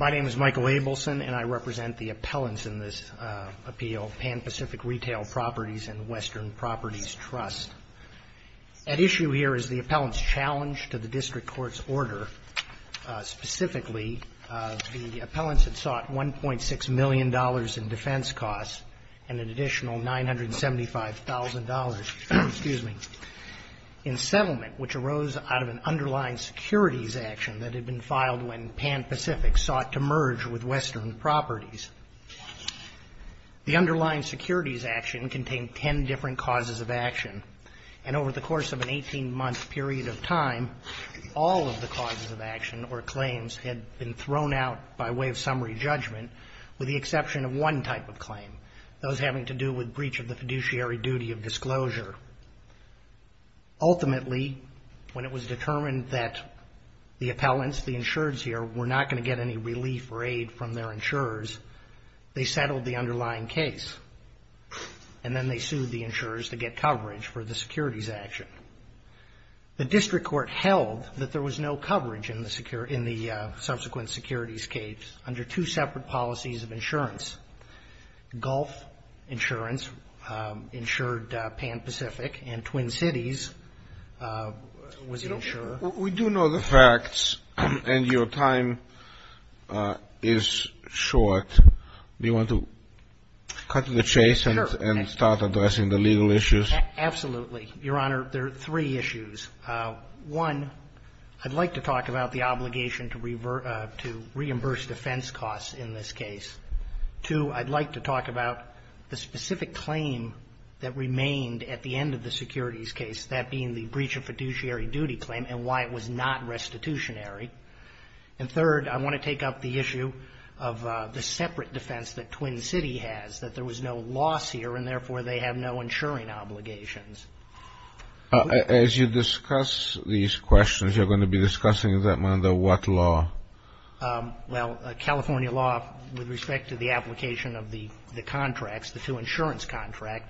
My name is Michael Abelson, and I represent the appellants in this appeal, PAN PACIFIC Retail Properties and Western Properties Trust. At issue here is the appellant's challenge to the district court's order. Specifically, the appellants had sought $1.6 million in defense costs and an additional $975,000 in settlement, which arose out of an underlying securities action that had been filed when PAN PACIFIC sought to merge with Western Properties. The underlying securities action contained ten different causes of action, and over the course of an 18-month period of time, all of the causes of action or claims had been thrown out by way of summary judgment, with the exception of one type of claim, those having to do with breach of the fiduciary duty of disclosure. Ultimately, when it was found that the appellants, the insureds here, were not going to get any relief or aid from their insurers, they settled the underlying case, and then they sued the insurers to get coverage for the securities action. The district court held that there was no coverage in the subsequent securities case under two separate policies of insurance. Gulf Insurance insured PAN PACIFIC, and Twin Now, you know the facts, and your time is short. Do you want to cut to the chase and start addressing the legal issues? Absolutely. Your Honor, there are three issues. One, I'd like to talk about the obligation to reimburse defense costs in this case. Two, I'd like to talk about the specific claim that remained at the end of the securities case, that being the breach of fiduciary duty claim and why it was not restitutionary. And third, I want to take up the issue of the separate defense that Twin City has, that there was no loss here, and therefore, they have no insuring obligations. As you discuss these questions, you're going to be discussing them under what law? Well, California law, with respect to the application of the contracts, the two insurance contracts,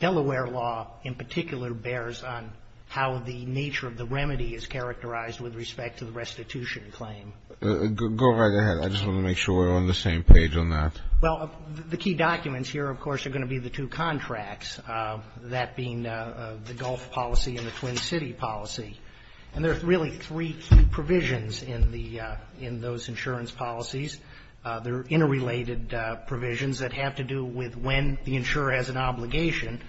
Delaware law in particular bears on how the nature of the remedy is characterized with respect to the restitution claim. Go right ahead. I just want to make sure we're on the same page on that. Well, the key documents here, of course, are going to be the two contracts, that being the Gulf policy and the Twin City policy. And there are really three key provisions in the — in those insurance policies. They're interrelated provisions that have to do with when the insurer has an obligation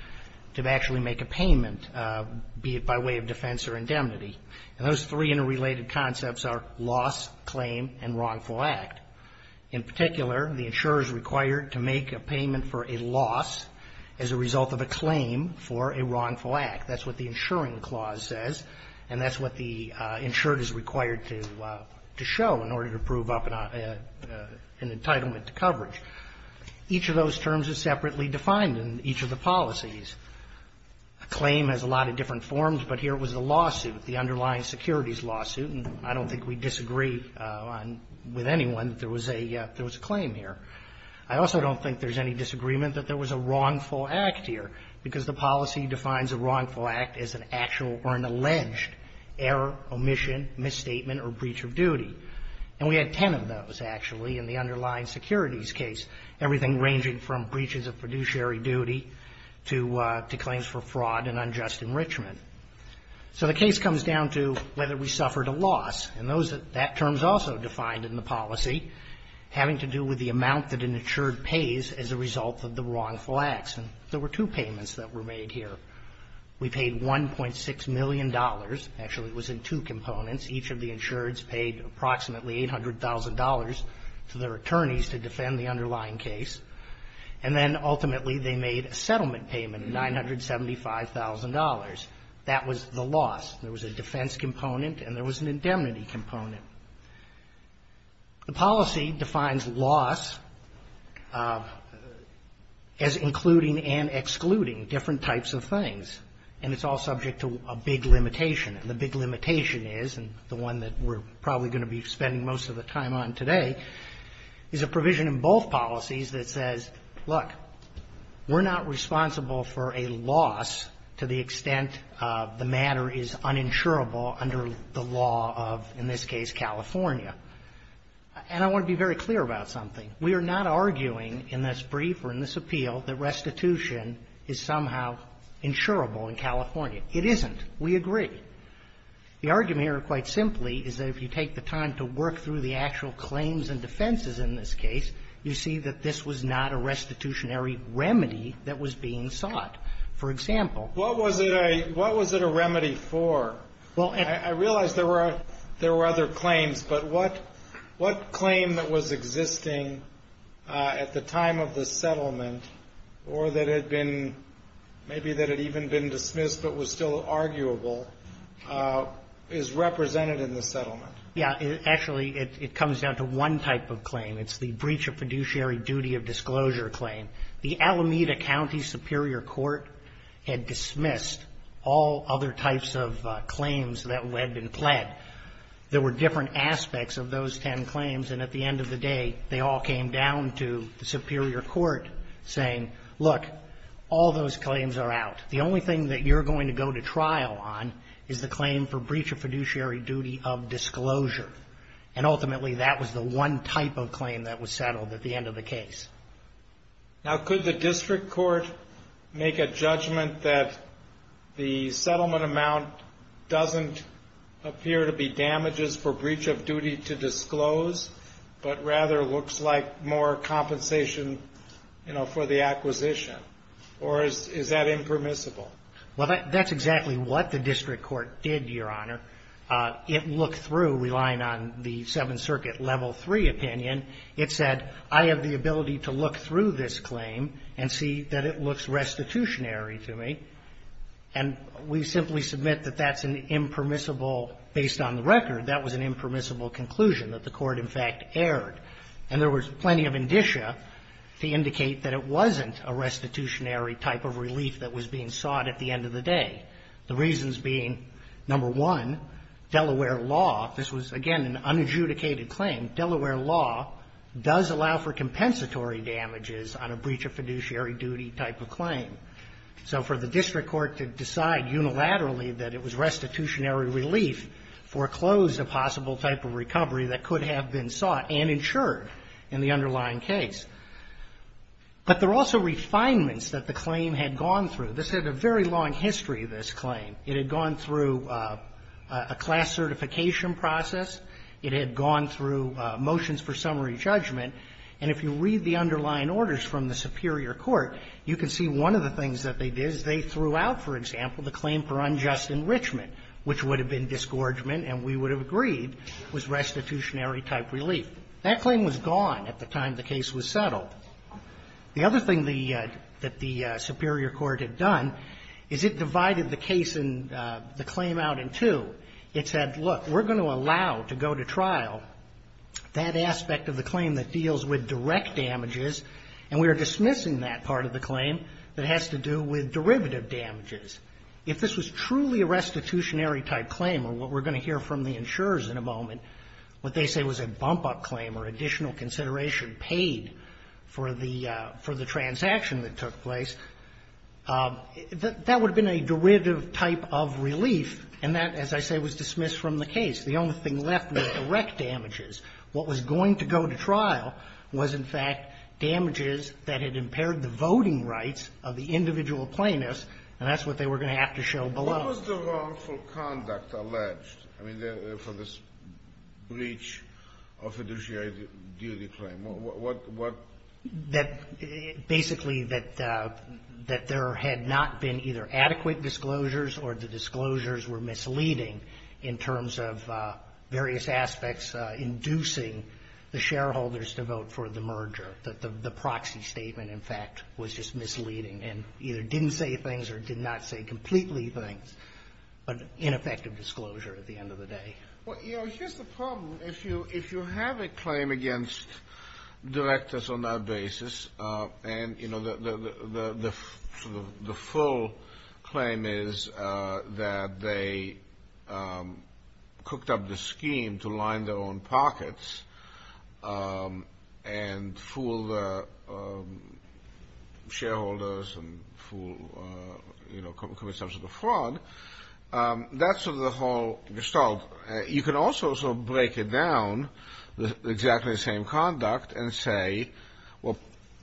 to actually make a payment, be it by way of defense or indemnity. And those three interrelated concepts are loss, claim, and wrongful act. In particular, the insurer is required to make a payment for a loss as a result of a claim for a wrongful act. That's what the insuring clause says, and that's what the insured is required to show in order to prove up an entitlement to coverage. Each of those terms is separately defined in each of the policies. A claim has a lot of different forms, but here it was a lawsuit, the underlying securities lawsuit, and I don't think we disagree with anyone that there was a claim here. I also don't think there's any disagreement that there was a wrongful act here, because the policy defines a wrongful act as an actual or an alleged error, omission, misstatement, or breach of duty. And we had 10 of those, actually, in the underlying securities case, everything ranging from breaches of fiduciary duty to claims for fraud and unjust enrichment. So the case comes down to whether we suffered a loss, and that term is also defined in the policy, having to do with the amount that an insured pays as a result of the wrongful acts. And there were two payments that were made here. We paid $1.6 million, actually it was in two components. Each of the insureds paid approximately $800,000 to their attorneys to defend the underlying case, and then ultimately they made a settlement payment of $975,000. That was the loss. There was a defense component and there was an indemnity component. The policy defines loss as including and excluding different types of things, and it's all subject to a big limitation. And the big limitation is, and the one that we're probably going to be spending most of the time on today, is a provision in both policies that says, look, we're not responsible for a loss to the extent the matter is uninsurable under the law of, in this case, California. And I want to be very clear about something. We are not arguing in this brief or in this appeal that restitution is somehow insurable in California. It isn't. We agree. The argument here, quite simply, is that if you take the time to work through the actual claims and defenses in this case, you see that this was not a restitutionary remedy that was being sought. For example… What was it a remedy for? I realize there were other claims, but what claim that was existing at the time of the settlement or that had been, maybe that had even been discussed but was still arguable, is represented in the settlement? Yeah. Actually, it comes down to one type of claim. It's the breach of fiduciary duty of disclosure claim. The Alameda County Superior Court had dismissed all other types of claims that had been pled. There were different aspects of those ten claims, and at the end of the day, they all came down to the Superior Court saying, look, all those claims are out. The only thing that you're going to go to trial on is the claim for breach of fiduciary duty of disclosure. And ultimately, that was the one type of claim that was settled at the end of the case. Now could the district court make a judgment that the settlement amount doesn't appear to be damages for breach of duty to disclose, but rather looks like more compensation, you know, for the acquisition? Or is that impermissible? Well, that's exactly what the district court did, Your Honor. It looked through, relying on the Seventh Circuit Level III opinion. It said, I have the ability to look through this claim and see that it looks restitutionary to me. And we simply submit that that's an impermissible – based on the record, that was an impermissible conclusion that the court, in fact, erred. And there was plenty of indicia that the district court could have used to indicate that it wasn't a restitutionary type of relief that was being sought at the end of the day. The reasons being, number one, Delaware law – this was, again, an unadjudicated claim – Delaware law does allow for compensatory damages on a breach of fiduciary duty type of claim. So for the district court to decide unilaterally that it was restitutionary relief foreclosed a possible type of recovery that could have been sought and insured in the underlying case. But there were also refinements that the claim had gone through. This had a very long history, this claim. It had gone through a class certification process. It had gone through motions for summary judgment. And if you read the underlying orders from the superior court, you can see one of the things that they did is they threw out, for example, the claim for unjust enrichment, which would have been disgorgement, and we would have agreed was restitutionary type relief. That claim was gone at the time the case was settled. The other thing the – that the superior court had done is it divided the case and the claim out in two. It said, look, we're going to allow to go to trial that aspect of the claim that deals with direct damages, and we are dismissing that part of the claim that has to do with derivative damages. If this was truly a restitutionary type claim, or what we're going to hear from the insurers in a moment, what they say was a bump-up claim or additional consideration paid for the – for the transaction that took place, that would have been a derivative type of relief, and that, as I say, was dismissed from the case. The only thing left were direct damages. What was going to go to trial was, in fact, damages that had impaired the voting rights of the individual plaintiffs, and that's what they were going to have to show below. What was the wrongful conduct alleged, I mean, for this breach of fiduciary duty claim? What – what – That basically that – that there had not been either adequate disclosures or the disclosures were misleading in terms of various aspects inducing the shareholders to vote for the merger, that the – the proxy statement, in fact, was just misleading. And either didn't say things or did not say completely things, but ineffective disclosure at the end of the day. Well, you know, here's the problem. If you – if you have a claim against directors on that basis, and, you know, the – the – the full claim is that they cooked up the scheme to line their own pockets and fool the shareholders and fool, you know, commit some sort of fraud, that's sort of the whole gestalt. You can also sort of break it down, exactly the same conduct, and say, well,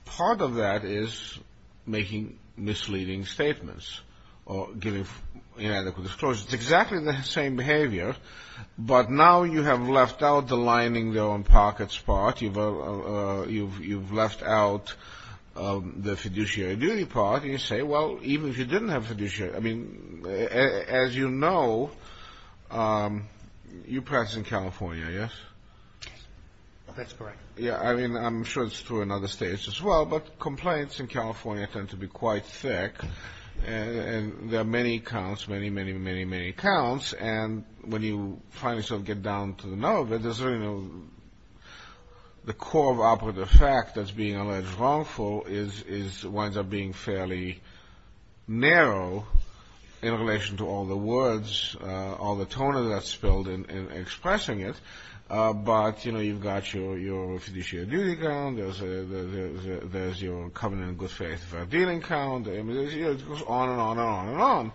part of that is making misleading statements or giving inadequate disclosures. It's exactly the same behavior, but now you have left out the lining their own pockets part, you've – you've left out the fiduciary duty part, and you say, well, even if you didn't have fiduciary – I mean, as you know, you practice in California, yes? Yes, that's correct. Yeah, I mean, I'm sure it's true in other states as well, but complaints in California counts, and when you finally sort of get down to the nerve, there's really no – the core of operative fact that's being alleged wrongful is – winds up being fairly narrow in relation to all the words, all the toner that's spilled in expressing it, but, you know, you've got your – your fiduciary duty count, there's – there's your covenant of good faith and fair dealing count, I mean, it goes on and on and on and on.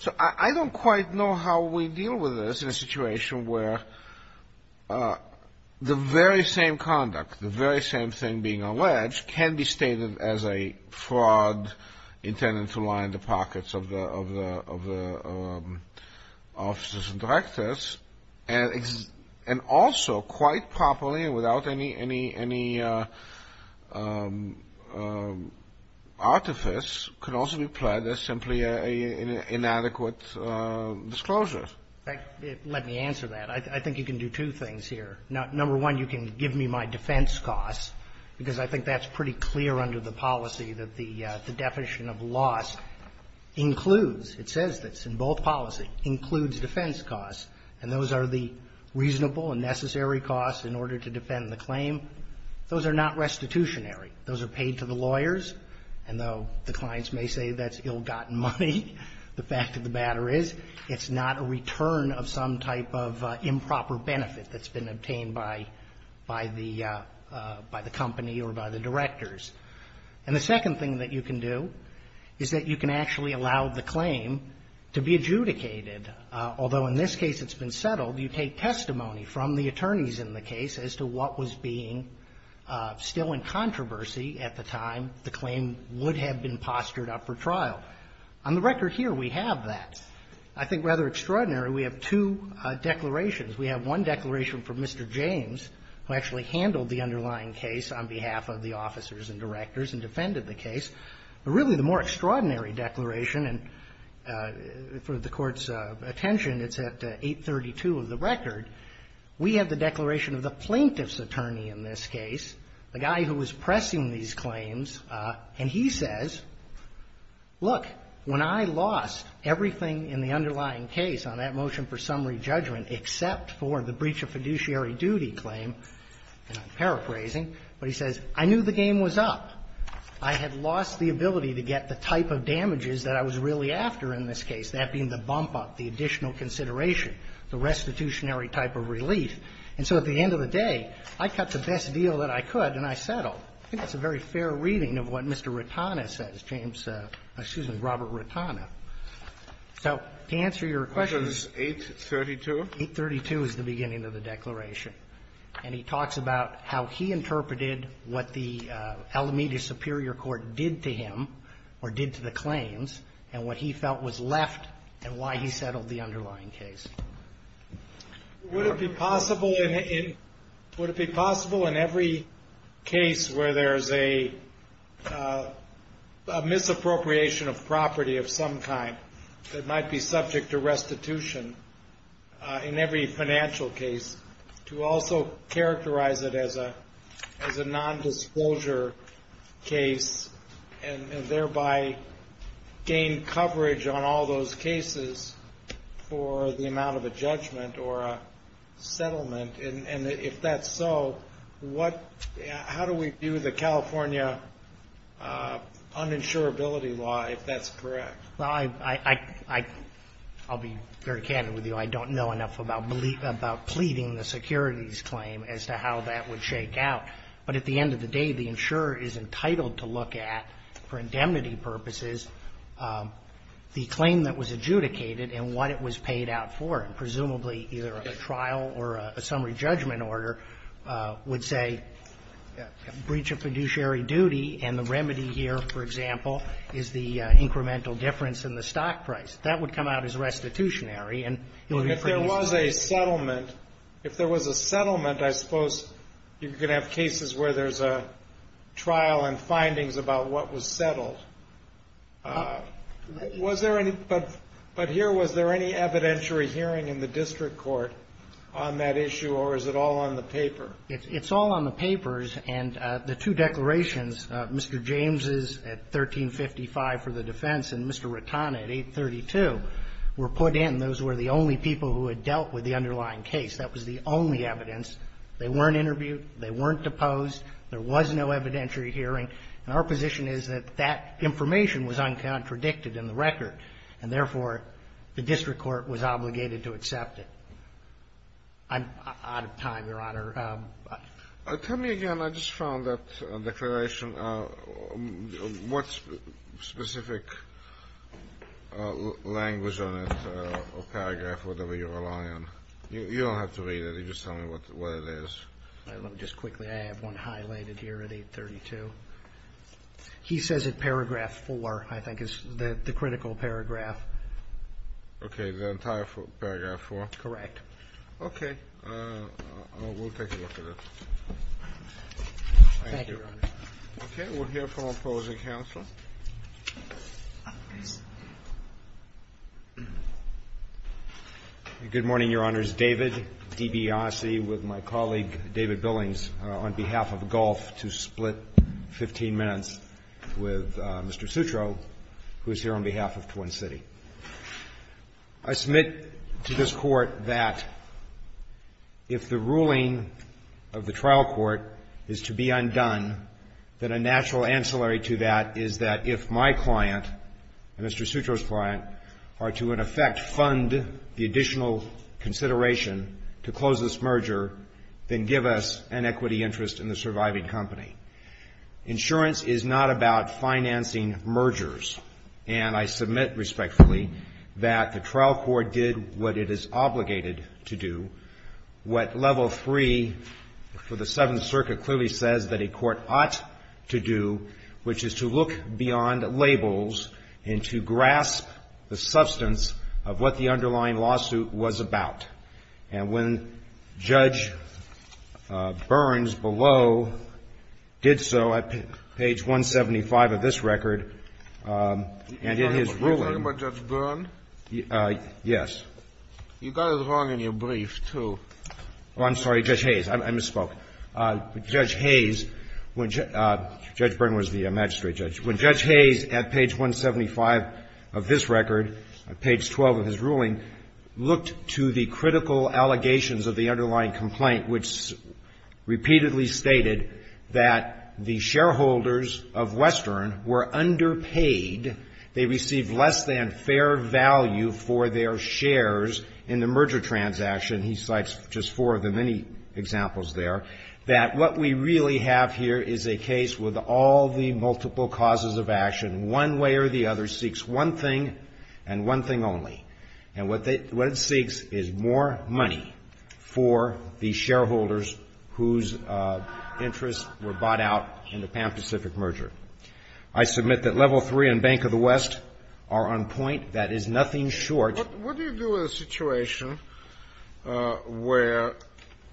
So I don't quite know how we deal with this in a situation where the very same conduct, the very same thing being alleged can be stated as a fraud intended to line the pockets of the – of the – of the officers and directors, and also quite properly and without any – any – any artifice can also be pledged as simply an inadequate disclosure. Let me answer that. I think you can do two things here. Number one, you can give me my defense costs, because I think that's pretty clear under the policy that the definition of loss includes – it says this in both policies – includes defense costs, and those are the reasonable and necessary costs in order to defend the claim. Those are not restitutionary. Those are paid to the lawyers, and though the clients may say that's ill-gotten money, the fact of the matter is it's not a return of some type of improper benefit that's been obtained by – by the – by the company or by the directors. And the second thing that you can do is that you can actually allow the claim to be adjudicated. Although in this case it's been settled, you take testimony from the attorneys in the case as to what was being still in controversy at the time the claim would have been postured up for trial. On the record here, we have that. I think rather extraordinary, we have two declarations. We have one declaration from Mr. James, who actually handled the underlying case on behalf of the officers and directors and defended the case. But really, the more extraordinary declaration, and for the Court's attention, it's at 832 of the record. We have the declaration of the plaintiff's attorney in this case, the guy who was pressing these claims, and he says, look, when I lost everything in the underlying case on that motion for summary judgment except for the breach of fiduciary duty claim – and I'm paraphrasing – but he says, I knew the game was up. I had lost the ability to get the type of damages that I was really after in this case, that being the bump-up, the additional consideration, the restitutionary type of relief. And so at the end of the day, I cut the best deal that I could and I settled. I think that's a very fair reading of what Mr. Rotana says, James – excuse me, Robert Rotana. So to answer your question – 832 is the beginning of the declaration. And he talks about how he interpreted what the Alameda Superior Court did to him or did to the claims and what he felt was left and why he settled the underlying case. Would it be possible in every case where there's a misappropriation of property of some kind that might be subject to restitution in every financial case to also characterize it as a nondisclosure case and thereby gain coverage on all those cases for the amount of a judgment or a settlement? And if that's so, how do we view the California uninsurability law, if that's correct? Well, I'll be very candid with you. I don't know enough about pleading the securities claim as to how that would shake out. But at the end of the day, the insurer is entitled to look at, for indemnity purposes, the claim that was adjudicated and what it was paid out for. And presumably, either a trial or a summary judgment in order would say breach of fiduciary duty and the remedy here, for example, is the incremental difference in the stock price. That would come out as restitutionary and it would be produced. And if there was a settlement, if there was a settlement, I suppose you could have cases where there's a trial and findings about what was settled. Was there any But here, was there any evidentiary hearing in the district court on that issue, or is it all on the paper? It's all on the papers. And the two declarations, Mr. James' at 1355 for the defense and Mr. Ratana at 832, were put in. Those were the only people who had dealt with the underlying case. That was the only evidence. They weren't interviewed. They weren't deposed. There was no evidentiary hearing. And our position is that that information was uncontradicted in the record, and therefore, the district court was obligated to accept it. I'm out of time, Your Honor. Tell me again. I just found that declaration. What specific language on it or paragraph or whatever you rely on? You don't have to read it. You just tell me what it is. Just quickly, I have one highlighted here at 832. He says it, paragraph 4, I think is the critical paragraph. Okay. The entire paragraph 4? Correct. Okay. We'll take a look at it. Thank you, Your Honor. Okay. We'll hear from opposing counsel. Good morning, Your Honors. David DiBiase with my colleague David Billings on behalf of Gulf to split 15 minutes with Mr. Sutro, who is here on behalf of Twin City. I submit to this Court that if the ruling of the trial court is to be undone, that a natural ancillary to that is that if my client and Mr. Sutro's client are to, in effect, fund the additional consideration to close this merger, then give us an equity interest in the surviving company. Insurance is not about financing mergers, and I submit respectfully that the trial court did what it is obligated to do. What Level 3 for the case is obligated to do, which is to look beyond labels and to grasp the substance of what the underlying lawsuit was about. And when Judge Burns below did so, at page 175 of this record, and in his ruling. Are you talking about Judge Burns? Yes. You got it wrong in your brief, too. Oh, I'm sorry, Judge Hayes. I misspoke. Judge Hayes, Judge Burns was the magistrate judge. When Judge Hayes at page 175 of this record, page 12 of his ruling, looked to the critical allegations of the underlying complaint, which repeatedly stated that the shareholders of Western were underpaid. They received less than fair value for their shares in the merger transaction. He cites just four of the many examples there. That what we really have here is a case with all the multiple causes of action. One way or the other seeks one thing and one thing only. And what it seeks is more money for the shareholders whose interests were bought out in the Pan Pacific merger. I submit that level three and Bank of the West are on point. That is nothing short. What do you do in a situation where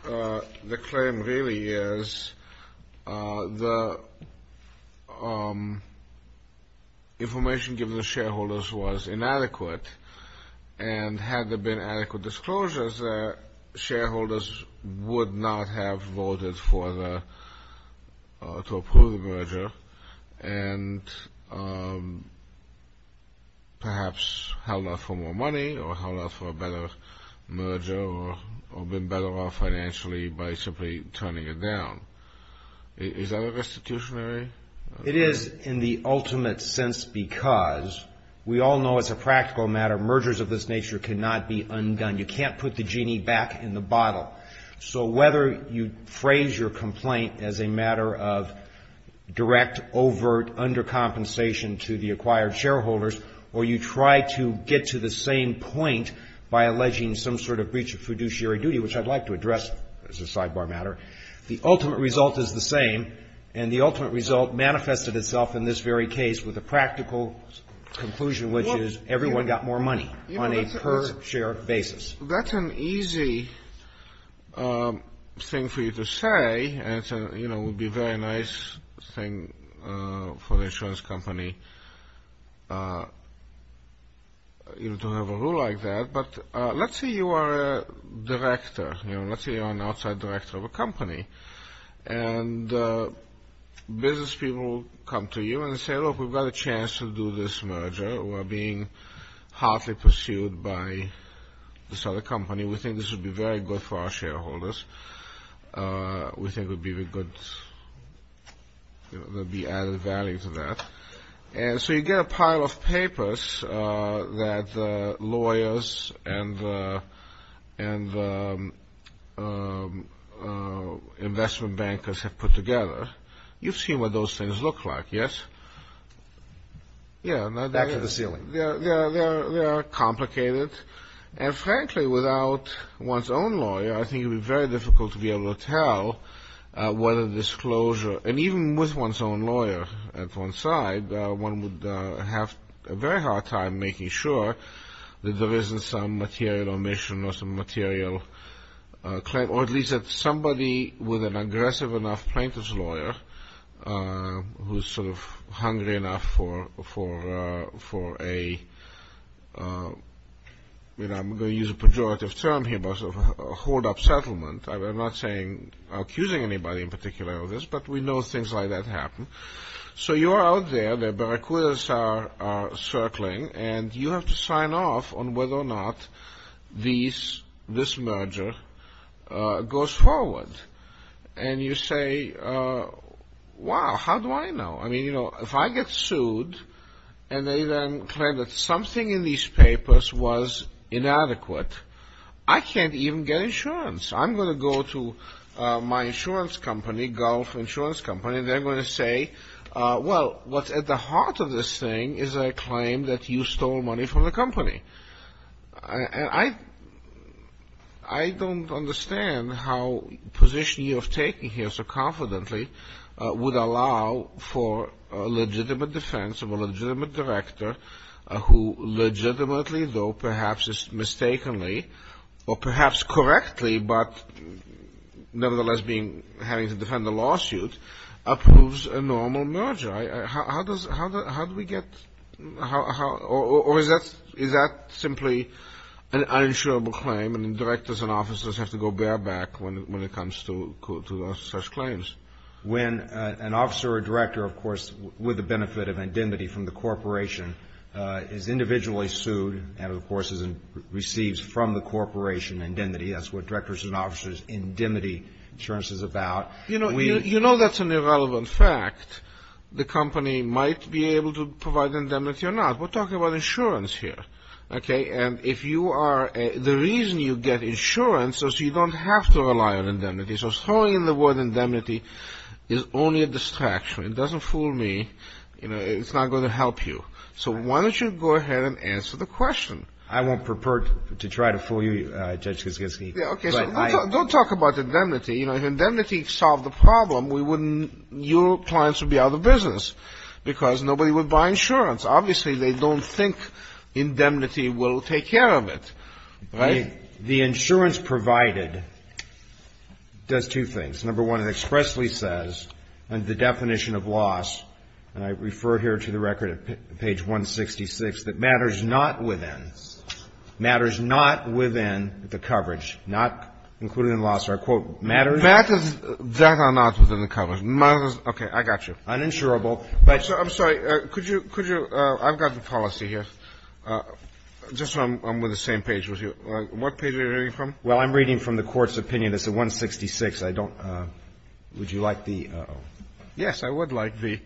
the claim really is the information given to the shareholders was inadequate? And had there been adequate disclosures there, shareholders would not have voted to approve the merger and perhaps held off for more money or held off for a better merger or been better off financially by simply turning it down. Is that a restitutionary? It is in the ultimate sense because we all know as a practical matter, mergers of this nature cannot be undone. You can't put the genie back in the bottle. So whether you phrase your complaint as a matter of direct overt undercompensation to the acquired shareholders or you try to get to the same point by alleging some sort of breach of fiduciary duty, which I'd like to address as a sidebar matter, the ultimate result is the same. And the ultimate result manifested itself in this very case with a practical conclusion, which is everyone got more money on a per share basis. That's an easy thing for you to say. It would be a very nice thing for the insurance company to have a rule like that. But let's say you are a director. Let's say you are an outside director of a company and business people come to you and say, look, we've got a chance to do this merger. We're being heartily pursued by this other company. We think this would be very good for our shareholders. We think it would be very good. There would be added value to that. And so you get a pile of papers that lawyers and investment bankers have put together. You've seen what those things look like, yes? Back to the ceiling. They are complicated. And frankly, without one's own lawyer, I think it would be very difficult to be able to tell what a disclosure, and even with one's own lawyer at one side, one would have a very hard time making sure that there isn't some material omission or some material claim, or at least that somebody with an aggressive enough plaintiff's lawyer who's sort of hungry enough for a I'm going to use a pejorative term here, a hold up settlement. I'm not saying accusing anybody in particular of this, but we know things like that happen. So you are out there, the barracudas are circling, and you have to sign off on whether or not this merger goes forward. And you say, wow, how do I know? I mean, if I get sued, and they then claim that something in these my insurance company, Gulf Insurance Company, they're going to say, well, what's at the heart of this thing is a claim that you stole money from the company. And I don't understand how a position you have taken here so confidently would allow for a legitimate defense of a legitimate director who legitimately though perhaps mistakenly or perhaps correctly, but nevertheless having to defend a lawsuit, approves a normal merger. How do we get, or is that simply an uninsurable claim, and directors and officers have to go bareback when it comes to such claims? When an officer or director, of course, with the benefit of indemnity from the corporation, is individually sued and, of course, receives from the corporation indemnity, that's what directors and officers' indemnity insurance is about. You know that's an irrelevant fact. The company might be able to provide indemnity or not. We're talking about insurance here. Okay? And if you are, the reason you get insurance is you don't have to rely on indemnity. So throwing in the word indemnity is only a distraction. It doesn't fool me. It's not going to help you. So why don't you go ahead and answer the question? I won't prefer to try to fool you, Judge Kiskinski. Okay, so don't talk about indemnity. If indemnity solved the problem, we wouldn't, your clients would be out of business because nobody would buy insurance. Obviously, they don't think indemnity will take care of it. Right? The insurance provided does two things. Number one, it expressly says under the definition of loss, and I refer here to the record at page 166, that matters not within, matters not within the coverage, not included in the loss are, quote, matters that are not within the coverage. Okay, I got you. Uninsurable. I'm sorry. Could you, could you, I've got the policy here. Just so I'm on the same page with you. What page are you reading from? Well, I'm reading from the Court's opinion. It's at 166. I don't, would you like the, yes, I would like the,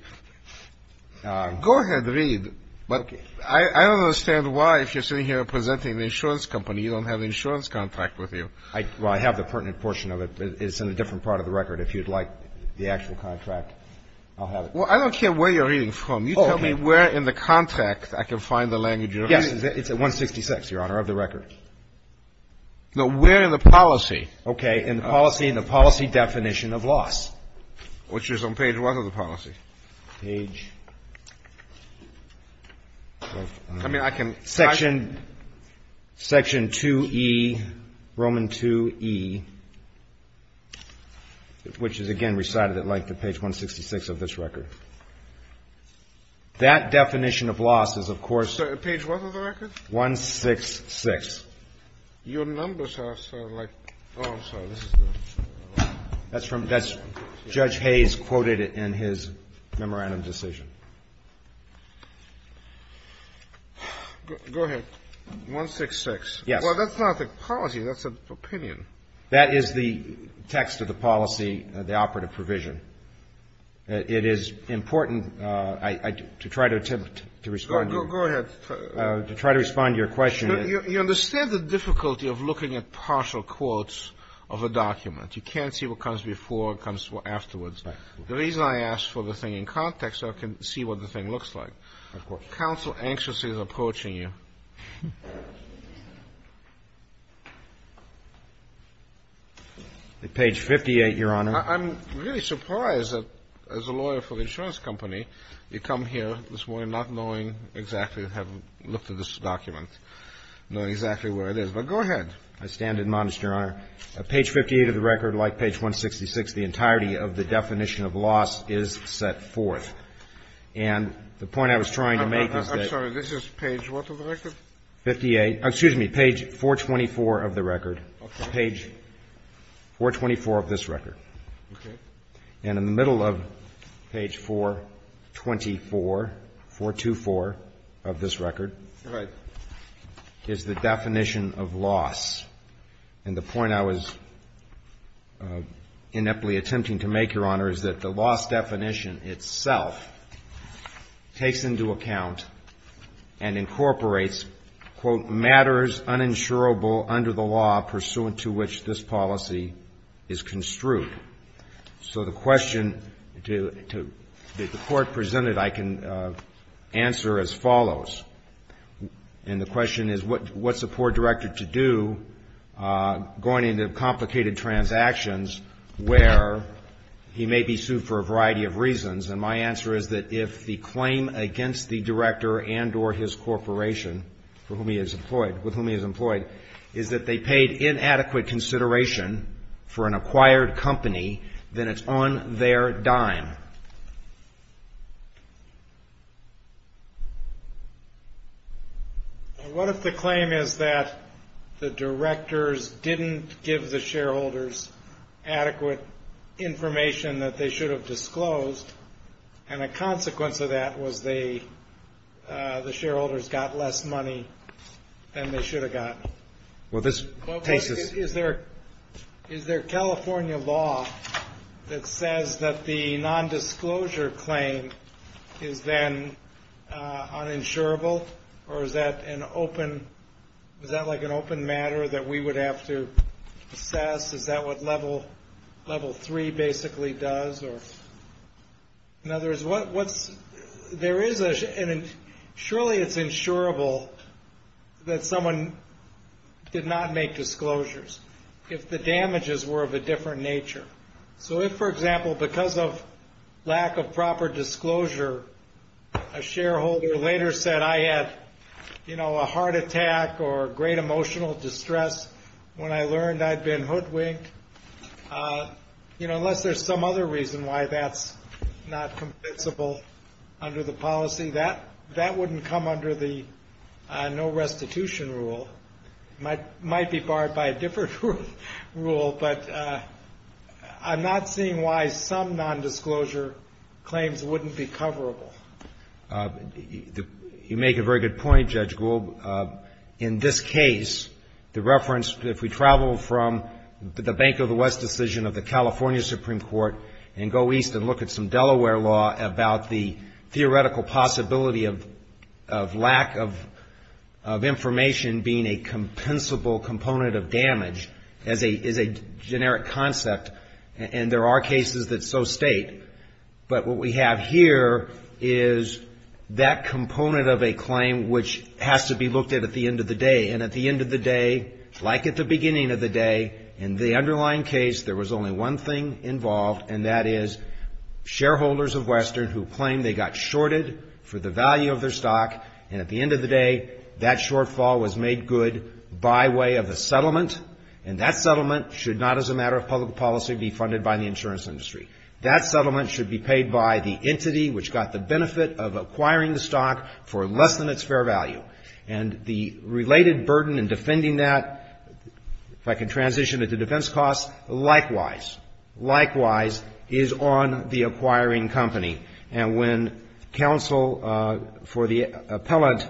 go ahead, read. But I don't understand why, if you're sitting here presenting the insurance company, you don't have the insurance contract with you. Well, I have the pertinent portion of it, but it's in a different part of the record. If you'd like the actual contract, I'll have it. Well, I don't care where you're reading from. You tell me where in the contract I can find the language you're reading. Yes. It's at 166, Your Honor, of the record. No, where in the policy. Okay. In the policy, in the policy definition of loss. Which is on page 1 of the policy. Page. I mean, I can. Section, section 2E, Roman 2E, which is, again, recited at length at page 166 of this record. That definition of loss is, of course. Sir, page 1 of the record? 166. Your numbers are, sir, like, oh, I'm sorry, this is the. That's from, that's Judge Hayes quoted in his memorandum decision. Go ahead. 166. Yes. Well, that's not the policy. That's an opinion. That is the text of the policy, the operative provision. It is important to try to respond. Go ahead. To try to respond to your question. You understand the difficulty of looking at partial quotes of a document. You can't see what comes before, what comes afterwards. Right. The reason I asked for the thing in context so I can see what the thing looks like. Of course. Counsel anxiously is approaching you. Page 58, Your Honor. I'm really surprised that, as a lawyer for an insurance company, you come here this morning not knowing exactly, having looked at this document, knowing exactly where it is. But go ahead. I stand admonished, Your Honor. Page 58 of the record, like page 166, the entirety of the definition of loss is set forth. And the point I was trying to make is that. I'm sorry. This is page what of the record? 58. Excuse me. Page 424 of the record. Okay. Page 424 of this record. Okay. And in the middle of page 424, 424 of this record. All right. Is the definition of loss. And the point I was ineptly attempting to make, Your Honor, is that the loss definition itself takes into account and incorporates, quote, matters uninsurable under the law pursuant to which this policy is construed. So the question that the Court presented, I can answer as follows. And the question is, what's a poor director to do going into complicated transactions where he may be sued for a variety of reasons? And my answer is that if the claim against the director and or his corporation for whom he is employed, with whom he is employed, is that they paid inadequate consideration for an acquired company, then it's on their dime. What if the claim is that the directors didn't give the shareholders adequate information that they should have disclosed, and a consequence of that was the shareholders got less money than they should have gotten? Well, this takes us. Is there California law that says that the nondisclosure claim is then uninsurable, or is that like an open matter that we would have to assess? Is that what Level 3 basically does? In other words, surely it's insurable that someone did not make disclosures if the damages were of a different nature. So if, for example, because of lack of proper disclosure, a shareholder later said, I had a heart attack or great emotional distress when I learned I'd been hoodwinked, you know, unless there's some other reason why that's not compensable under the policy, that wouldn't come under the no restitution rule. It might be barred by a different rule, but I'm not seeing why some nondisclosure claims wouldn't be coverable. You make a very good point, Judge Gould. In this case, the reference, if we travel from the Bank of the West decision of the California Supreme Court and go east and look at some Delaware law about the theoretical possibility of lack of information being a compensable component of damage as a generic concept, and there are cases that so state, but what we have here is that component of a claim which has to be looked at at the end of the day, and at the end of the day, like at the beginning of the day, in the underlying case, there was only one thing involved, and that is shareholders of Western who claimed they got shorted for the value of their stock, and at the end of the day, that shortfall was made good by way of a settlement, and that settlement should not, as a matter of public policy, be funded by the insurance industry. That settlement should be paid by the entity which got the benefit of acquiring the stock for less than its fair value, and the related burden in defending that, if I can transition it to defense costs, likewise, likewise is on the acquiring company, and when counsel for the appellant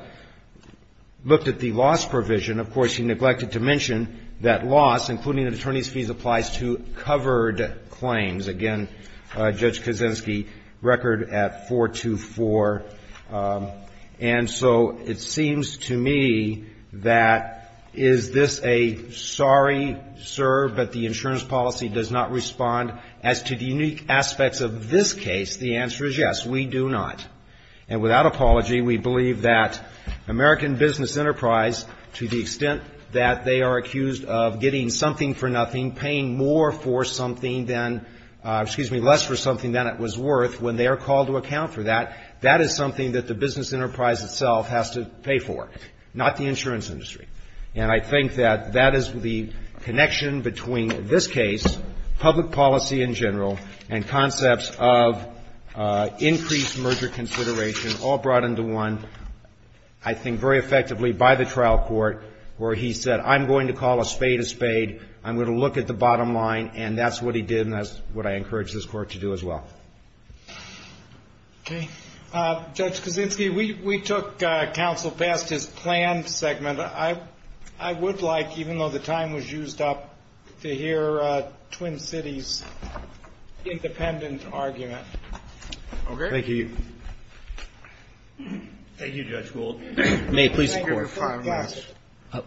looked at the loss provision, of course, he neglected to mention that loss, including an attorney's fees, applies to covered claims. Again, Judge Kaczynski, record at 424, and so it seems to me that is this a sorry, sir, but the insurance policy does not respond as to the unique aspects of this case? The answer is yes, we do not, and without apology, we believe that American Business Enterprise, to the extent that they are accused of getting something for nothing, paying more for something than, excuse me, less for something than it was worth, when they are called to account for that, that is something that the business enterprise itself has to pay for, not the insurance industry. And I think that that is the connection between this case, public policy in general, and concepts of increased merger consideration, all brought into one, I think very effectively, by the trial court, where he said, I'm going to call a spade a spade, I'm going to look at the bottom line, and that's what he did, and that's what I encourage this court to do as well. Okay. Judge Kaczynski, we took counsel past his planned segment. I would like, even though the time was used up, to hear Twin Cities' independent argument. Okay. Thank you. Thank you, Judge Gould. May I hear your five minutes?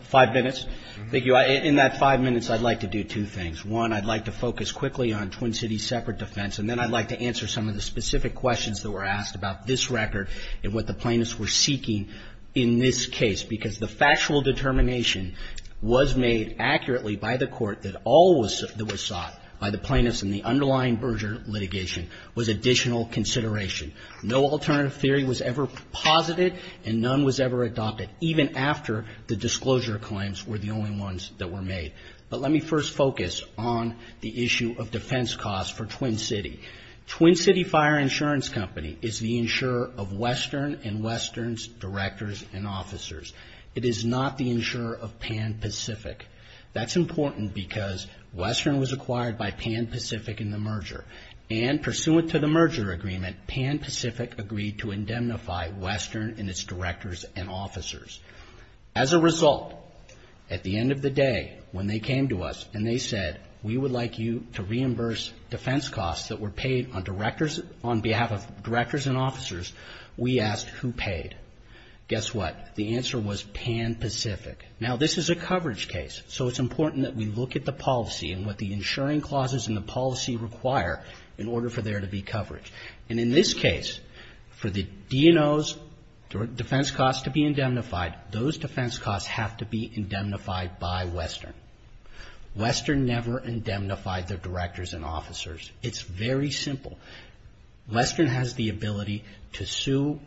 Five minutes? Thank you. In that five minutes, I'd like to do two things. One, I'd like to focus quickly on Twin Cities' separate defense, and then I'd like to answer some of the specific questions that were asked about this record and what the plaintiffs were seeking in this case, because the factual determination was made accurately by the court that all that was sought by the plaintiffs in the underlying merger litigation was additional consideration. No alternative theory was ever posited, and none was ever adopted, even after the disclosure claims were the only ones that were made. But let me first focus on the issue of defense costs for Twin City. Twin City Fire Insurance Company is the insurer of Western and Western's directors and officers. It is not the insurer of Pan Pacific. That's important because Western was acquired by Pan Pacific in the merger, and pursuant to the merger agreement, Pan Pacific agreed to indemnify Western and its directors and officers. As a result, at the end of the day, when they came to us and they said, we would like you to reimburse defense costs that were paid on behalf of directors and officers, we asked who paid. Guess what? The answer was Pan Pacific. Now, this is a coverage case, so it's important that we look at the policy and what the insuring clauses in the policy require in order for there to be coverage. And in this case, for the DNO's defense costs to be indemnified, those defense costs have to be indemnified by Western. Western never indemnified their directors and officers. It's very simple. Western has the ability to sue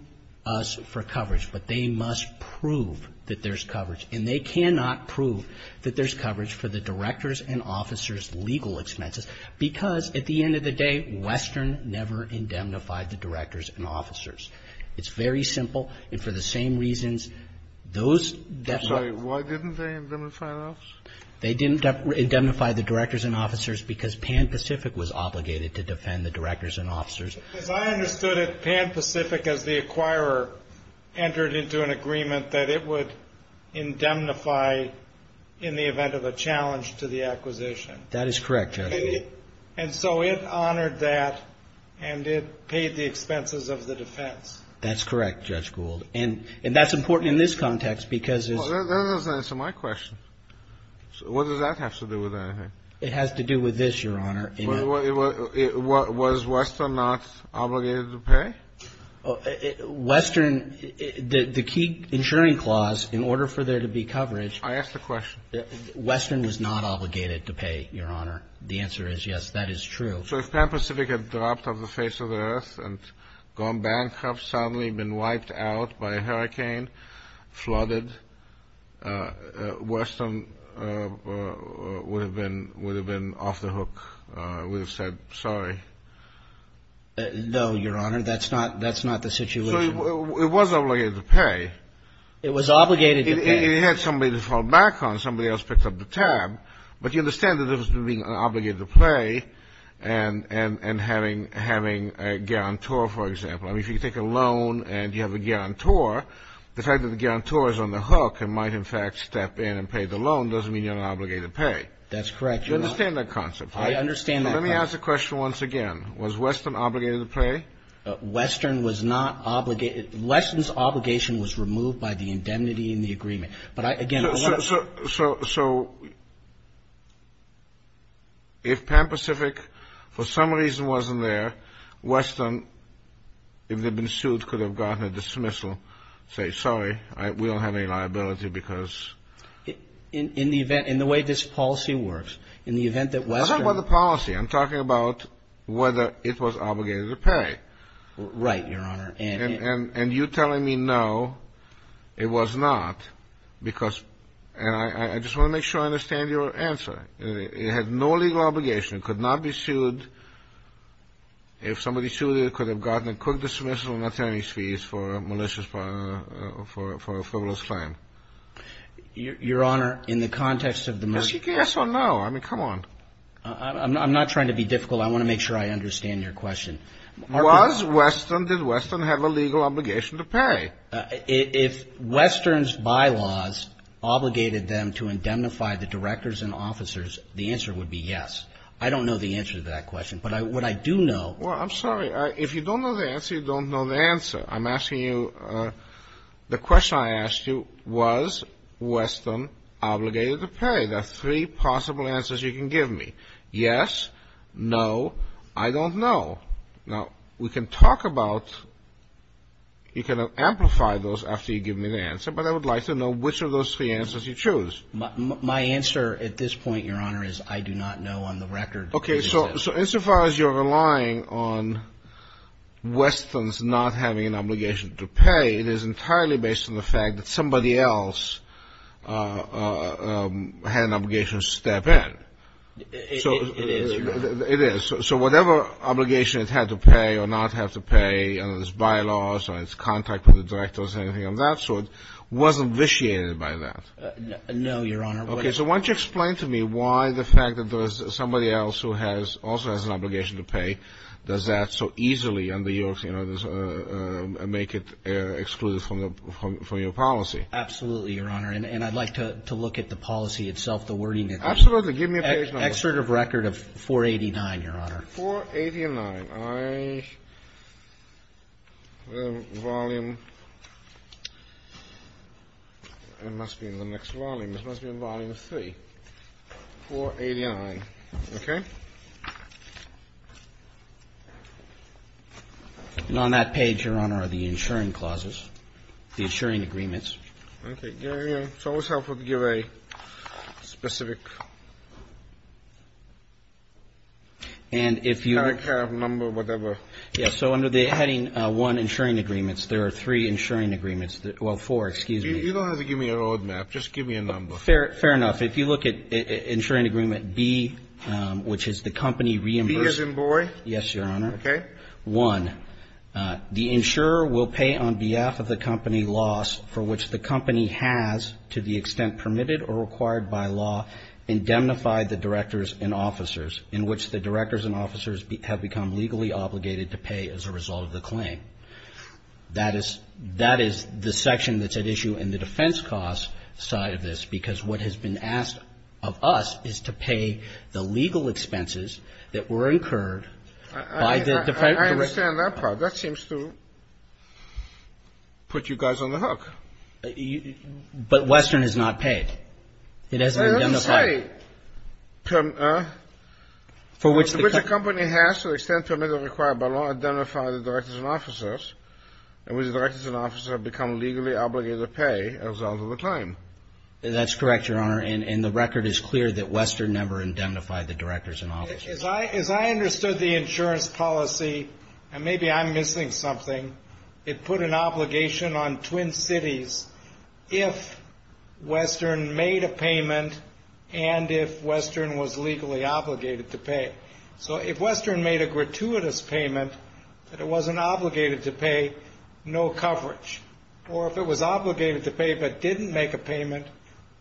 us for coverage, but they must prove that there's coverage, and they cannot prove that there's coverage for the directors and officers' legal expenses because, at the end of the day, Western never indemnified the directors and officers. It's very simple. And for the same reasons, those definitely ---- I'm sorry. Why didn't they indemnify us? They didn't indemnify the directors and officers because Pan Pacific was obligated to defend the directors and officers. As I understood it, Pan Pacific, as the acquirer, entered into an agreement that it would indemnify in the event of a challenge to the acquisition. That is correct, Judge Gould. And so it honored that, and it paid the expenses of the defense. That's correct, Judge Gould. And that's important in this context because it's ---- Well, that doesn't answer my question. What does that have to do with anything? It has to do with this, Your Honor. Was Western not obligated to pay? Western, the key insuring clause, in order for there to be coverage ---- I asked a question. Western was not obligated to pay, Your Honor. The answer is yes, that is true. So if Pan Pacific had dropped off the face of the earth and gone bankrupt, suddenly been wiped out by a hurricane, flooded, Western would have been off the hook, would have said, sorry. No, Your Honor, that's not the situation. So it was obligated to pay. It was obligated to pay. It had somebody to fall back on, somebody else picked up the tab. But you understand that there was an obligation to pay and having a guarantor, for example. I mean, if you take a loan and you have a guarantor, the fact that the guarantor is on the hook and might, in fact, step in and pay the loan doesn't mean you're not obligated to pay. That's correct, Your Honor. You understand that concept, right? I understand that concept. Let me ask the question once again. Was Western obligated to pay? Western was not obligated. Western's obligation was removed by the indemnity in the agreement. So if Pan Pacific for some reason wasn't there, Western, if they'd been sued, could have gotten a dismissal, say, sorry, we don't have any liability because. In the event, in the way this policy works, in the event that Western. I'm talking about the policy. I'm talking about whether it was obligated to pay. Right, Your Honor. And you're telling me no, it was not, because. And I just want to make sure I understand your answer. It had no legal obligation. It could not be sued. If somebody sued it, it could have gotten a quick dismissal, not paying any fees for a malicious, for a frivolous claim. Your Honor, in the context of the. Yes or no? I mean, come on. I'm not trying to be difficult. I want to make sure I understand your question. Was Western, did Western have a legal obligation to pay? If Western's bylaws obligated them to indemnify the directors and officers, the answer would be yes. I don't know the answer to that question. But what I do know. Well, I'm sorry. If you don't know the answer, you don't know the answer. I'm asking you, the question I asked you, was Western obligated to pay? There are three possible answers you can give me. Yes, no, I don't know. Now, we can talk about, you can amplify those after you give me the answer, but I would like to know which of those three answers you choose. My answer at this point, Your Honor, is I do not know on the record. Okay. So insofar as you're relying on Western's not having an obligation to pay, it is entirely based on the fact that somebody else had an obligation to step in. It is, Your Honor. It is. So whatever obligation it had to pay or not have to pay on its bylaws or its contact with the directors or anything of that sort wasn't vitiated by that? No, Your Honor. Okay. So why don't you explain to me why the fact that there was somebody else who also has an obligation to pay does that so easily make it excluded from your policy? Absolutely, Your Honor. And I'd like to look at the policy itself, the wording of it. Absolutely. Give me a page number. Excerpt of record of 489, Your Honor. 489. I have a volume. It must be in the next volume. It must be in volume three. 489. Okay. And on that page, Your Honor, are the insuring clauses, the insuring agreements. Okay. It's always helpful to give a specific number, whatever. Yes. So under the heading one, insuring agreements, there are three insuring agreements. Well, four. Excuse me. You don't have to give me a road map. Just give me a number. Fair enough. If you look at insuring agreement B, which is the company reimbursement. B as in boy? Yes, Your Honor. Okay. One, the insurer will pay on behalf of the company loss for which the company has, to the extent permitted or required by law, indemnified the directors and officers, in which the directors and officers have become legally obligated to pay as a result of the claim. That is the section that's at issue in the defense cost side of this, because what has been asked of us is to pay the legal expenses that were incurred by the company. I understand that part. That seems to put you guys on the hook. But Western has not paid. It hasn't been indemnified. I didn't say. For which the company has, to the extent permitted or required by law, indemnified the directors and officers, in which the directors and officers have become legally obligated to pay as a result of the claim. That's correct, Your Honor. And the record is clear that Western never indemnified the directors and officers. As I understood the insurance policy, and maybe I'm missing something, it put an obligation on Twin Cities if Western made a payment and if Western was legally obligated to pay. So if Western made a gratuitous payment that it wasn't obligated to pay, no coverage. Or if it was obligated to pay but didn't make a payment,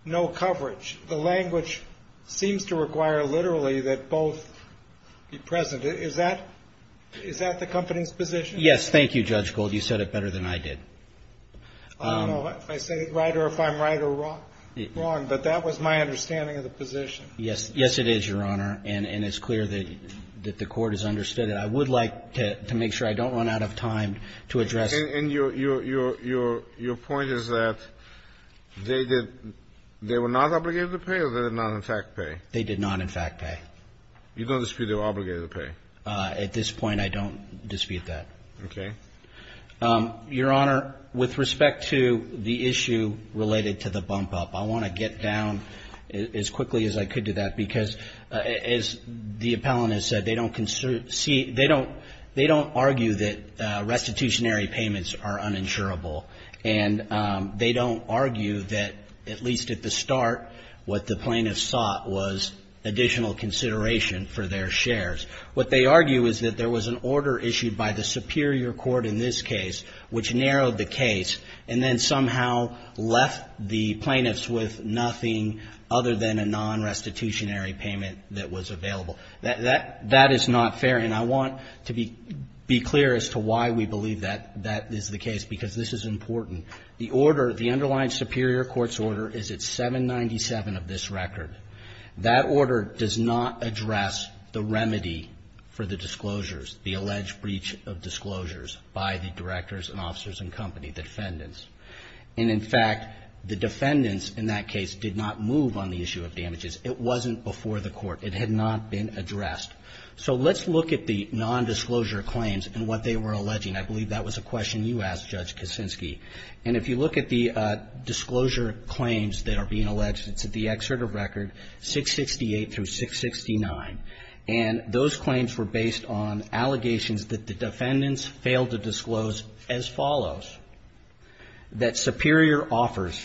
no coverage. The language seems to require literally that both be present. Is that the company's position? Yes. Thank you, Judge Gold. You said it better than I did. I don't know if I say it right or if I'm right or wrong. But that was my understanding of the position. Yes, it is, Your Honor. And it's clear that the Court has understood it. I would like to make sure I don't run out of time to address. And your point is that they were not obligated to pay or they did not, in fact, pay? They did not, in fact, pay. You don't dispute they were obligated to pay? At this point, I don't dispute that. Okay. Your Honor, with respect to the issue related to the bump up, I want to get down as quickly as I could to that because, as the appellant has said, they don't argue that restitutionary payments are uninsurable. And they don't argue that, at least at the start, what the plaintiffs sought was additional consideration for their shares. What they argue is that there was an order issued by the superior court in this case which narrowed the case and then somehow left the plaintiffs with nothing other than a non-restitutionary payment that was available. That is not fair. And I want to be clear as to why we believe that that is the case because this is important. The order, the underlying superior court's order, is at 797 of this record. That order does not address the remedy for the disclosures, the alleged breach of disclosures by the directors and officers and company, the defendants. And, in fact, the defendants in that case did not move on the issue of damages. It wasn't before the court. It had not been addressed. So let's look at the nondisclosure claims and what they were alleging. I believe that was a question you asked, Judge Kicinski. And if you look at the disclosure claims that are being alleged, it's at the excerpt of record 668 through 669. And those claims were based on allegations that the defendants failed to disclose as follows, that superior offers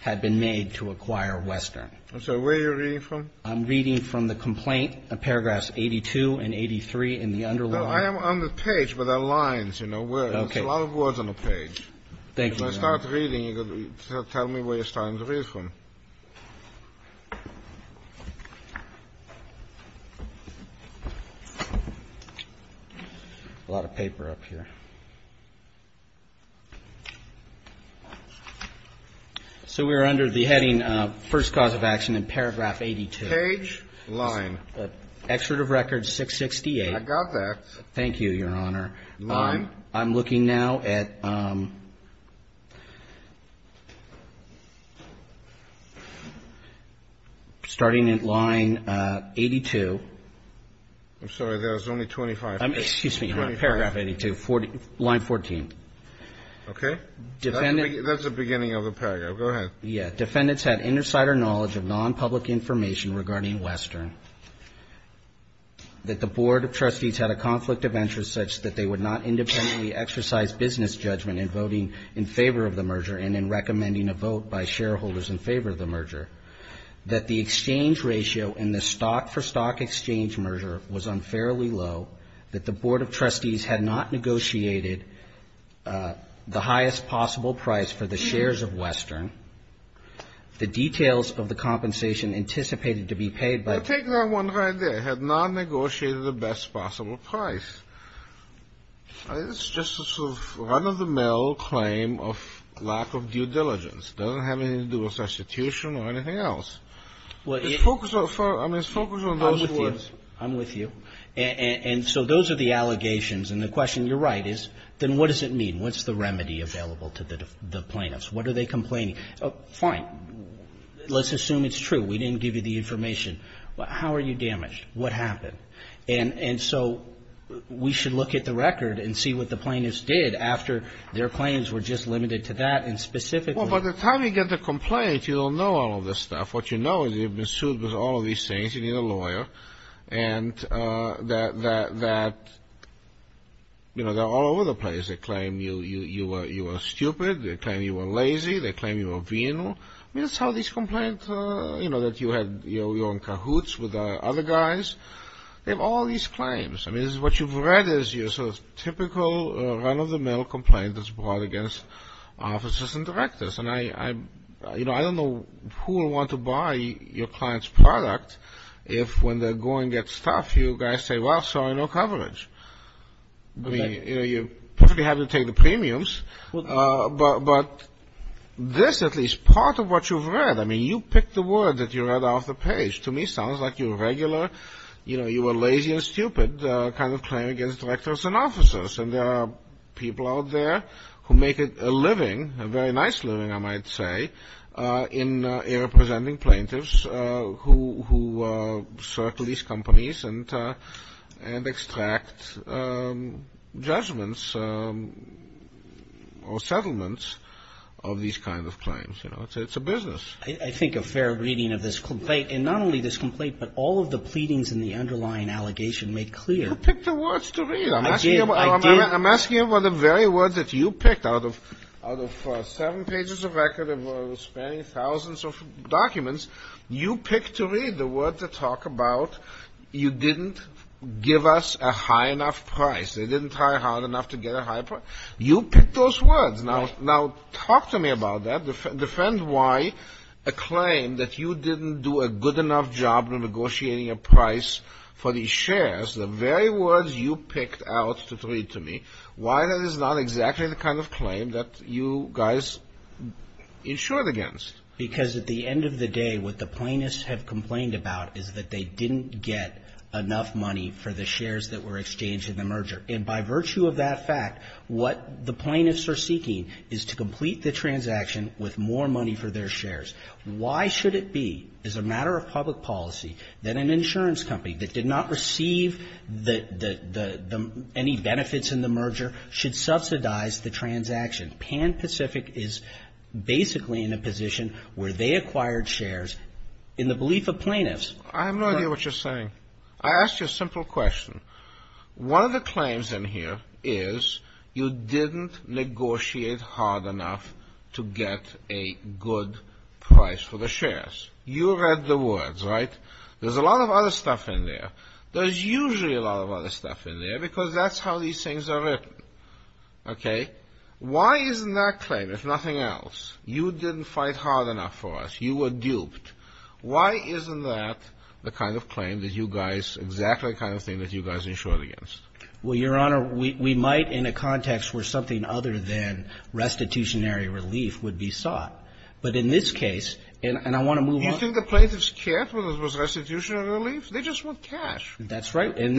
had been made to acquire Western. So where are you reading from? I'm reading from the complaint, paragraphs 82 and 83 in the underlying. I am on the page, but there are lines, you know, where there's a lot of words on the page. Thank you, Your Honor. If I start reading, tell me where you're starting to read from. A lot of paper up here. So we're under the heading first cause of action in paragraph 82. Page line. Excerpt of record 668. I got that. Thank you, Your Honor. Line. I'm looking now at starting at line 82. I'm sorry. There's only 25. Excuse me. Paragraph 82, line 14. Okay. That's the beginning of the paragraph. Go ahead. Yeah. Defendants had inner cider knowledge of nonpublic information regarding Western, that the Board of Trustees had a conflict of interest such that they would not independently exercise business judgment in voting in favor of the merger and in recommending a vote by shareholders in favor of the merger, that the exchange ratio in the stock for stock exchange merger was unfairly low, that the Board of Trustees had not negotiated the highest possible price for the shares of Western. The details of the compensation anticipated to be paid by the ---- You're taking on one right there. Had not negotiated the best possible price. It's just a sort of run-of-the-mill claim of lack of due diligence. It doesn't have anything to do with substitution or anything else. Well, it ---- I mean, it's focused on those words. I'm with you. And so those are the allegations. And the question, you're right, is then what does it mean? What's the remedy available to the plaintiffs? What are they complaining? Fine. Let's assume it's true. We didn't give you the information. How are you damaged? What happened? And so we should look at the record and see what the plaintiffs did after their claims were just limited to that. And specifically ---- Well, by the time you get the complaint, you don't know all of this stuff. What you know is you've been sued with all of these things. You need a lawyer. And that, you know, they're all over the place. They claim you are stupid. They claim you are lazy. They claim you are venal. I mean, that's how these complaints ---- you know, that you're on cahoots with other guys. They have all these claims. I mean, what you've read is your sort of typical run-of-the-mill complaint that's brought against officers and directors. And, you know, I don't know who will want to buy your client's product if, when they're going at stuff, you guys say, well, sorry, no coverage. I mean, you know, you probably have to take the premiums. But this, at least, part of what you've read ---- I mean, you picked the word that you read off the page. To me, it sounds like your regular, you know, you were lazy and stupid kind of claim against directors and officers. And there are people out there who make a living, a very nice living, I might say, in representing plaintiffs who circle these companies and extract judgments or settlements of these kinds of claims. You know, it's a business. I think a fair reading of this complaint, and not only this complaint, but all of the pleadings in the underlying allegation make clear ---- You picked the words to read. I did. I did. I'm asking you about the very words that you picked out of seven pages of record of spanning thousands of documents. You picked to read the words that talk about you didn't give us a high enough price. They didn't try hard enough to get a high price. You picked those words. Now talk to me about that. Defend why a claim that you didn't do a good enough job negotiating a price for these shares, the very words you picked out to read to me, why that is not exactly the kind of claim that you guys insured against. Because at the end of the day, what the plaintiffs have complained about is that they didn't get enough money for the shares that were exchanged in the merger. And by virtue of that fact, what the plaintiffs are seeking is to complete the transaction with more money for their shares. Why should it be, as a matter of public policy, that an insurance company that did not receive any benefits in the merger should subsidize the transaction? Pan Pacific is basically in a position where they acquired shares in the belief of plaintiffs. I have no idea what you're saying. I asked you a simple question. One of the claims in here is you didn't negotiate hard enough to get a good price for the shares. You read the words, right? There's a lot of other stuff in there. There's usually a lot of other stuff in there, because that's how these things are written. Why isn't that claim, if nothing else, you didn't fight hard enough for us? You were duped. Why isn't that the kind of claim that you guys, exactly the kind of thing that you guys insured against? Well, Your Honor, we might in a context where something other than restitutionary relief would be sought. But in this case, and I want to move on. You think the plaintiffs cared whether it was restitution or relief? They just want cash. That's right. They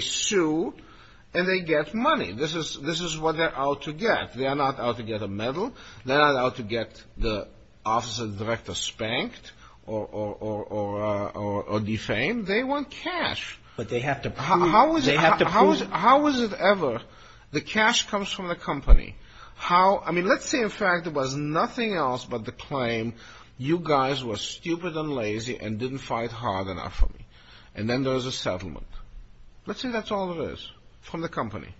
sue, and they get money. This is what they're out to get. They are not out to get a medal. They are not out to get the office of the director spanked or defamed. They want cash. But they have to prove. How is it ever, the cash comes from the company. I mean, let's say, in fact, it was nothing else but the claim, you guys were stupid and lazy and didn't fight hard enough for me. And then there was a settlement. Let's say that's all it is from the company.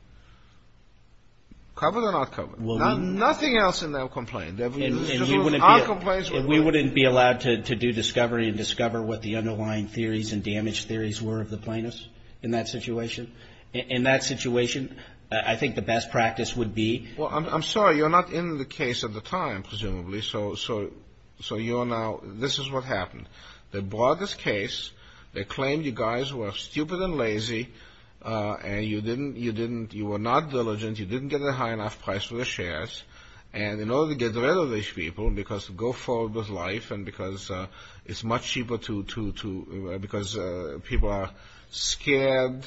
Covered or not covered? Nothing else in their complaint. We wouldn't be allowed to do discovery and discover what the underlying theories and damage theories were of the plaintiffs in that situation? In that situation, I think the best practice would be. Well, I'm sorry. You're not in the case at the time, presumably. So you are now, this is what happened. They brought this case. They claimed you guys were stupid and lazy. And you didn't, you were not diligent. You didn't get a high enough price for the shares. And in order to get rid of these people because to go forward with life and because it's much cheaper to, because people are scared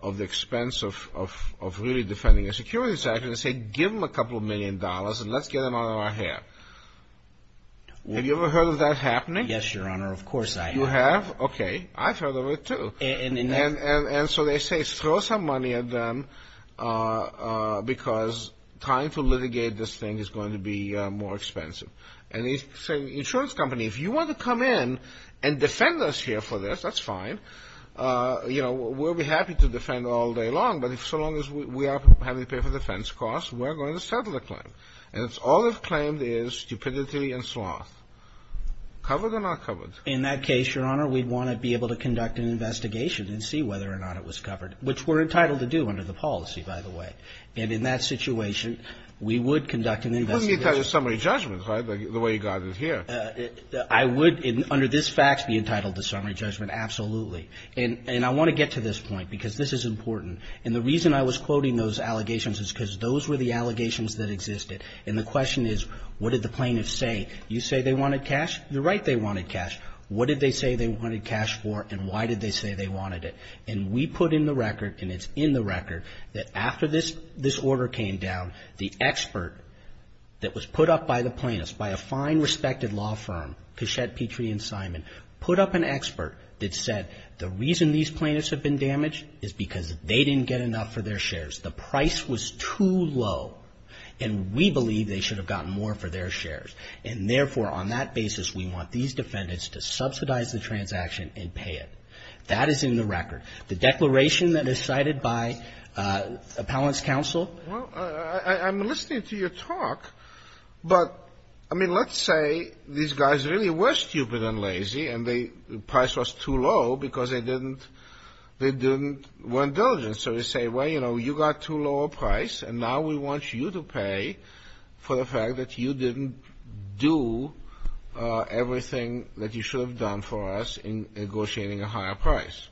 of the expense of really defending a security transaction, they say give them a couple million dollars and let's get them out of our hair. Have you ever heard of that happening? Yes, Your Honor, of course I have. You have? Okay. I've heard of it, too. And so they say throw some money at them because trying to litigate this thing is going to be more expensive. And they say, insurance company, if you want to come in and defend us here for this, that's fine. You know, we'll be happy to defend all day long. But so long as we are having to pay for defense costs, we're going to settle the claim. And all they've claimed is stupidity and sloth. Covered or not covered? In that case, Your Honor, we'd want to be able to conduct an investigation and see whether or not it was covered, which we're entitled to do under the policy, by the way. And in that situation, we would conduct an investigation. You wouldn't be entitled to summary judgment, right, the way you got it here. I would, under this fact, be entitled to summary judgment, absolutely. And I want to get to this point because this is important. And the reason I was quoting those allegations is because those were the allegations that existed. And the question is, what did the plaintiffs say? You say they wanted cash. You're right, they wanted cash. What did they say they wanted cash for, and why did they say they wanted it? And we put in the record, and it's in the record, that after this order came down, the expert that was put up by the plaintiffs, by a fine, respected law firm, Keshet, Petrie, and Simon, put up an expert that said the reason these plaintiffs have been damaged is because they didn't get enough for their shares. The price was too low. And we believe they should have gotten more for their shares. And, therefore, on that basis, we want these defendants to subsidize the transaction and pay it. That is in the record. The declaration that is cited by Appellant's counsel. Well, I'm listening to your talk, but, I mean, let's say these guys really were stupid and lazy, and the price was too low because they didn't, they didn't, weren't diligent. So they say, well, you know, you got too low a price, and now we want you to pay for the fact that you didn't do everything that you should have done for us in negotiating a higher price.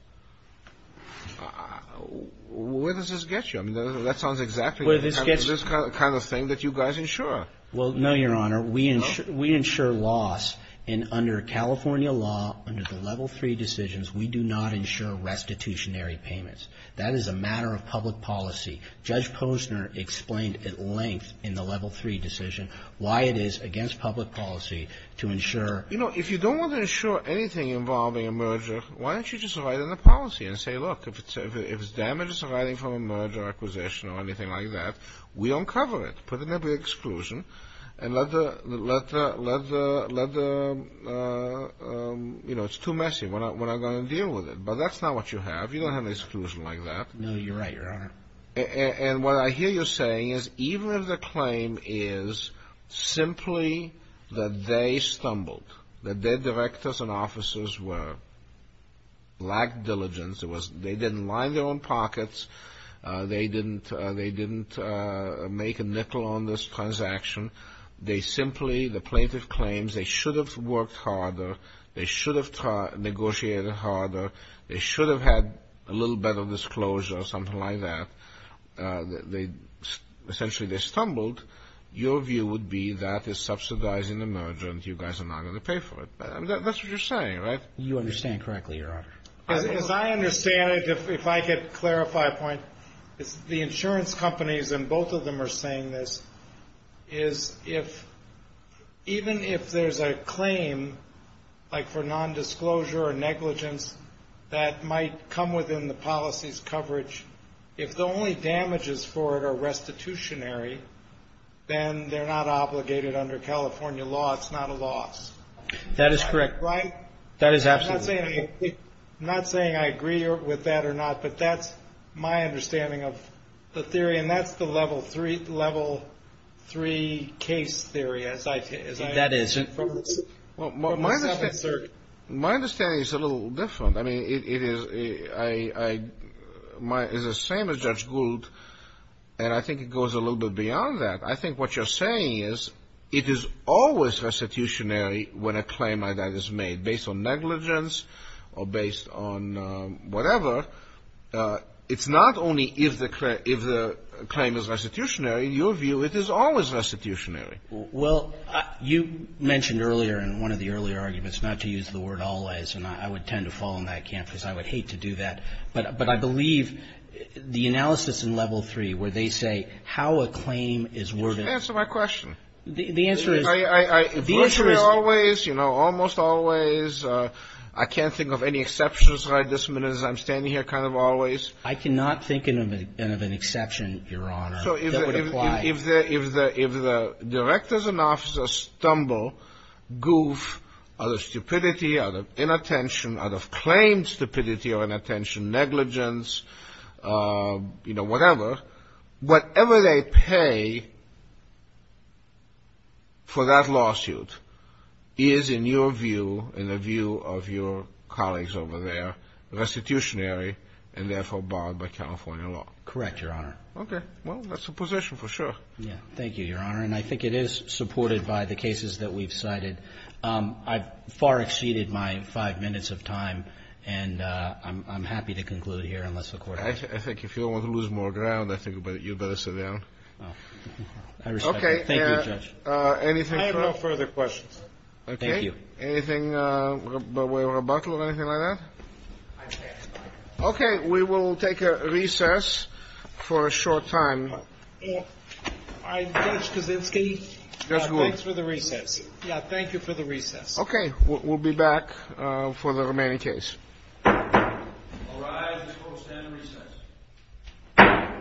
Where does this get you? I mean, that sounds exactly like this kind of thing that you guys insure. Well, no, Your Honor. We insure loss. And under California law, under the Level III decisions, we do not insure restitutionary payments. That is a matter of public policy. Judge Posner explained at length in the Level III decision why it is against public policy to insure. You know, if you don't want to insure anything involving a merger, why don't you just write in the policy and say, look, if it's damages arising from a merger acquisition or anything like that, we don't cover it. Put in a big exclusion and let the, let the, let the, let the, you know, it's too messy when I'm going to deal with it. But that's not what you have. You don't have an exclusion like that. No, you're right, Your Honor. And what I hear you saying is even if the claim is simply that they stumbled, that their directors and officers were, lacked diligence, it was, they didn't line their own pockets, they didn't, they didn't make a nickel on this transaction, they simply, the plaintiff claims they should have worked harder, they should have negotiated harder, they should have had a little bit of disclosure or something like that, they, essentially they stumbled, your view would be that is subsidizing the merger and you guys are not going to pay for it. That's what you're saying, right? You understand correctly, Your Honor. As I understand it, if I could clarify a point, it's the insurance companies and both of them are saying this, is if, even if there's a claim like for nondisclosure or negligence that might come within the policy's coverage, if the only damages for it are restitutionary, then they're not obligated under California law, it's not a loss. That is correct. Right? That is absolutely correct. I'm not saying I agree with that or not, but that's my understanding of the theory and that's the level three case theory. That is. My understanding is a little different. I mean, it is the same as Judge Gould and I think it goes a little bit beyond that. I think what you're saying is it is always restitutionary when a claim like that is made based on negligence or based on whatever. It's not only if the claim is restitutionary. In your view, it is always restitutionary. Well, you mentioned earlier in one of the earlier arguments not to use the word always and I would tend to fall in that camp because I would hate to do that. But I believe the analysis in level three where they say how a claim is worth it. Answer my question. The answer is. Virtually always, you know, almost always. I can't think of any exceptions right this minute as I'm standing here kind of always. I cannot think of an exception, Your Honor, that would apply. So if the directors and officers stumble, goof, out of stupidity, out of inattention, out of claimed stupidity or inattention, negligence, you know, whatever, whatever they pay for that lawsuit is, in your view, in the view of your colleagues over there, restitutionary and therefore barred by California law. Correct, Your Honor. Okay. Well, that's a position for sure. Yeah. Thank you, Your Honor. And I think it is supported by the cases that we've cited. I've far exceeded my five minutes of time and I'm happy to conclude here unless the Court. I think if you don't want to lose more ground, I think you better sit down. I respect that. Thank you, Judge. Anything further? I have no further questions. Okay. Thank you. Anything by way of rebuttal or anything like that? I pass, Your Honor. Okay. We will take a recess for a short time. Judge Kaczynski, thanks for the recess. Yeah. Thank you for the recess. Okay. We'll be back for the remaining case. All rise. The Court will stand at recess.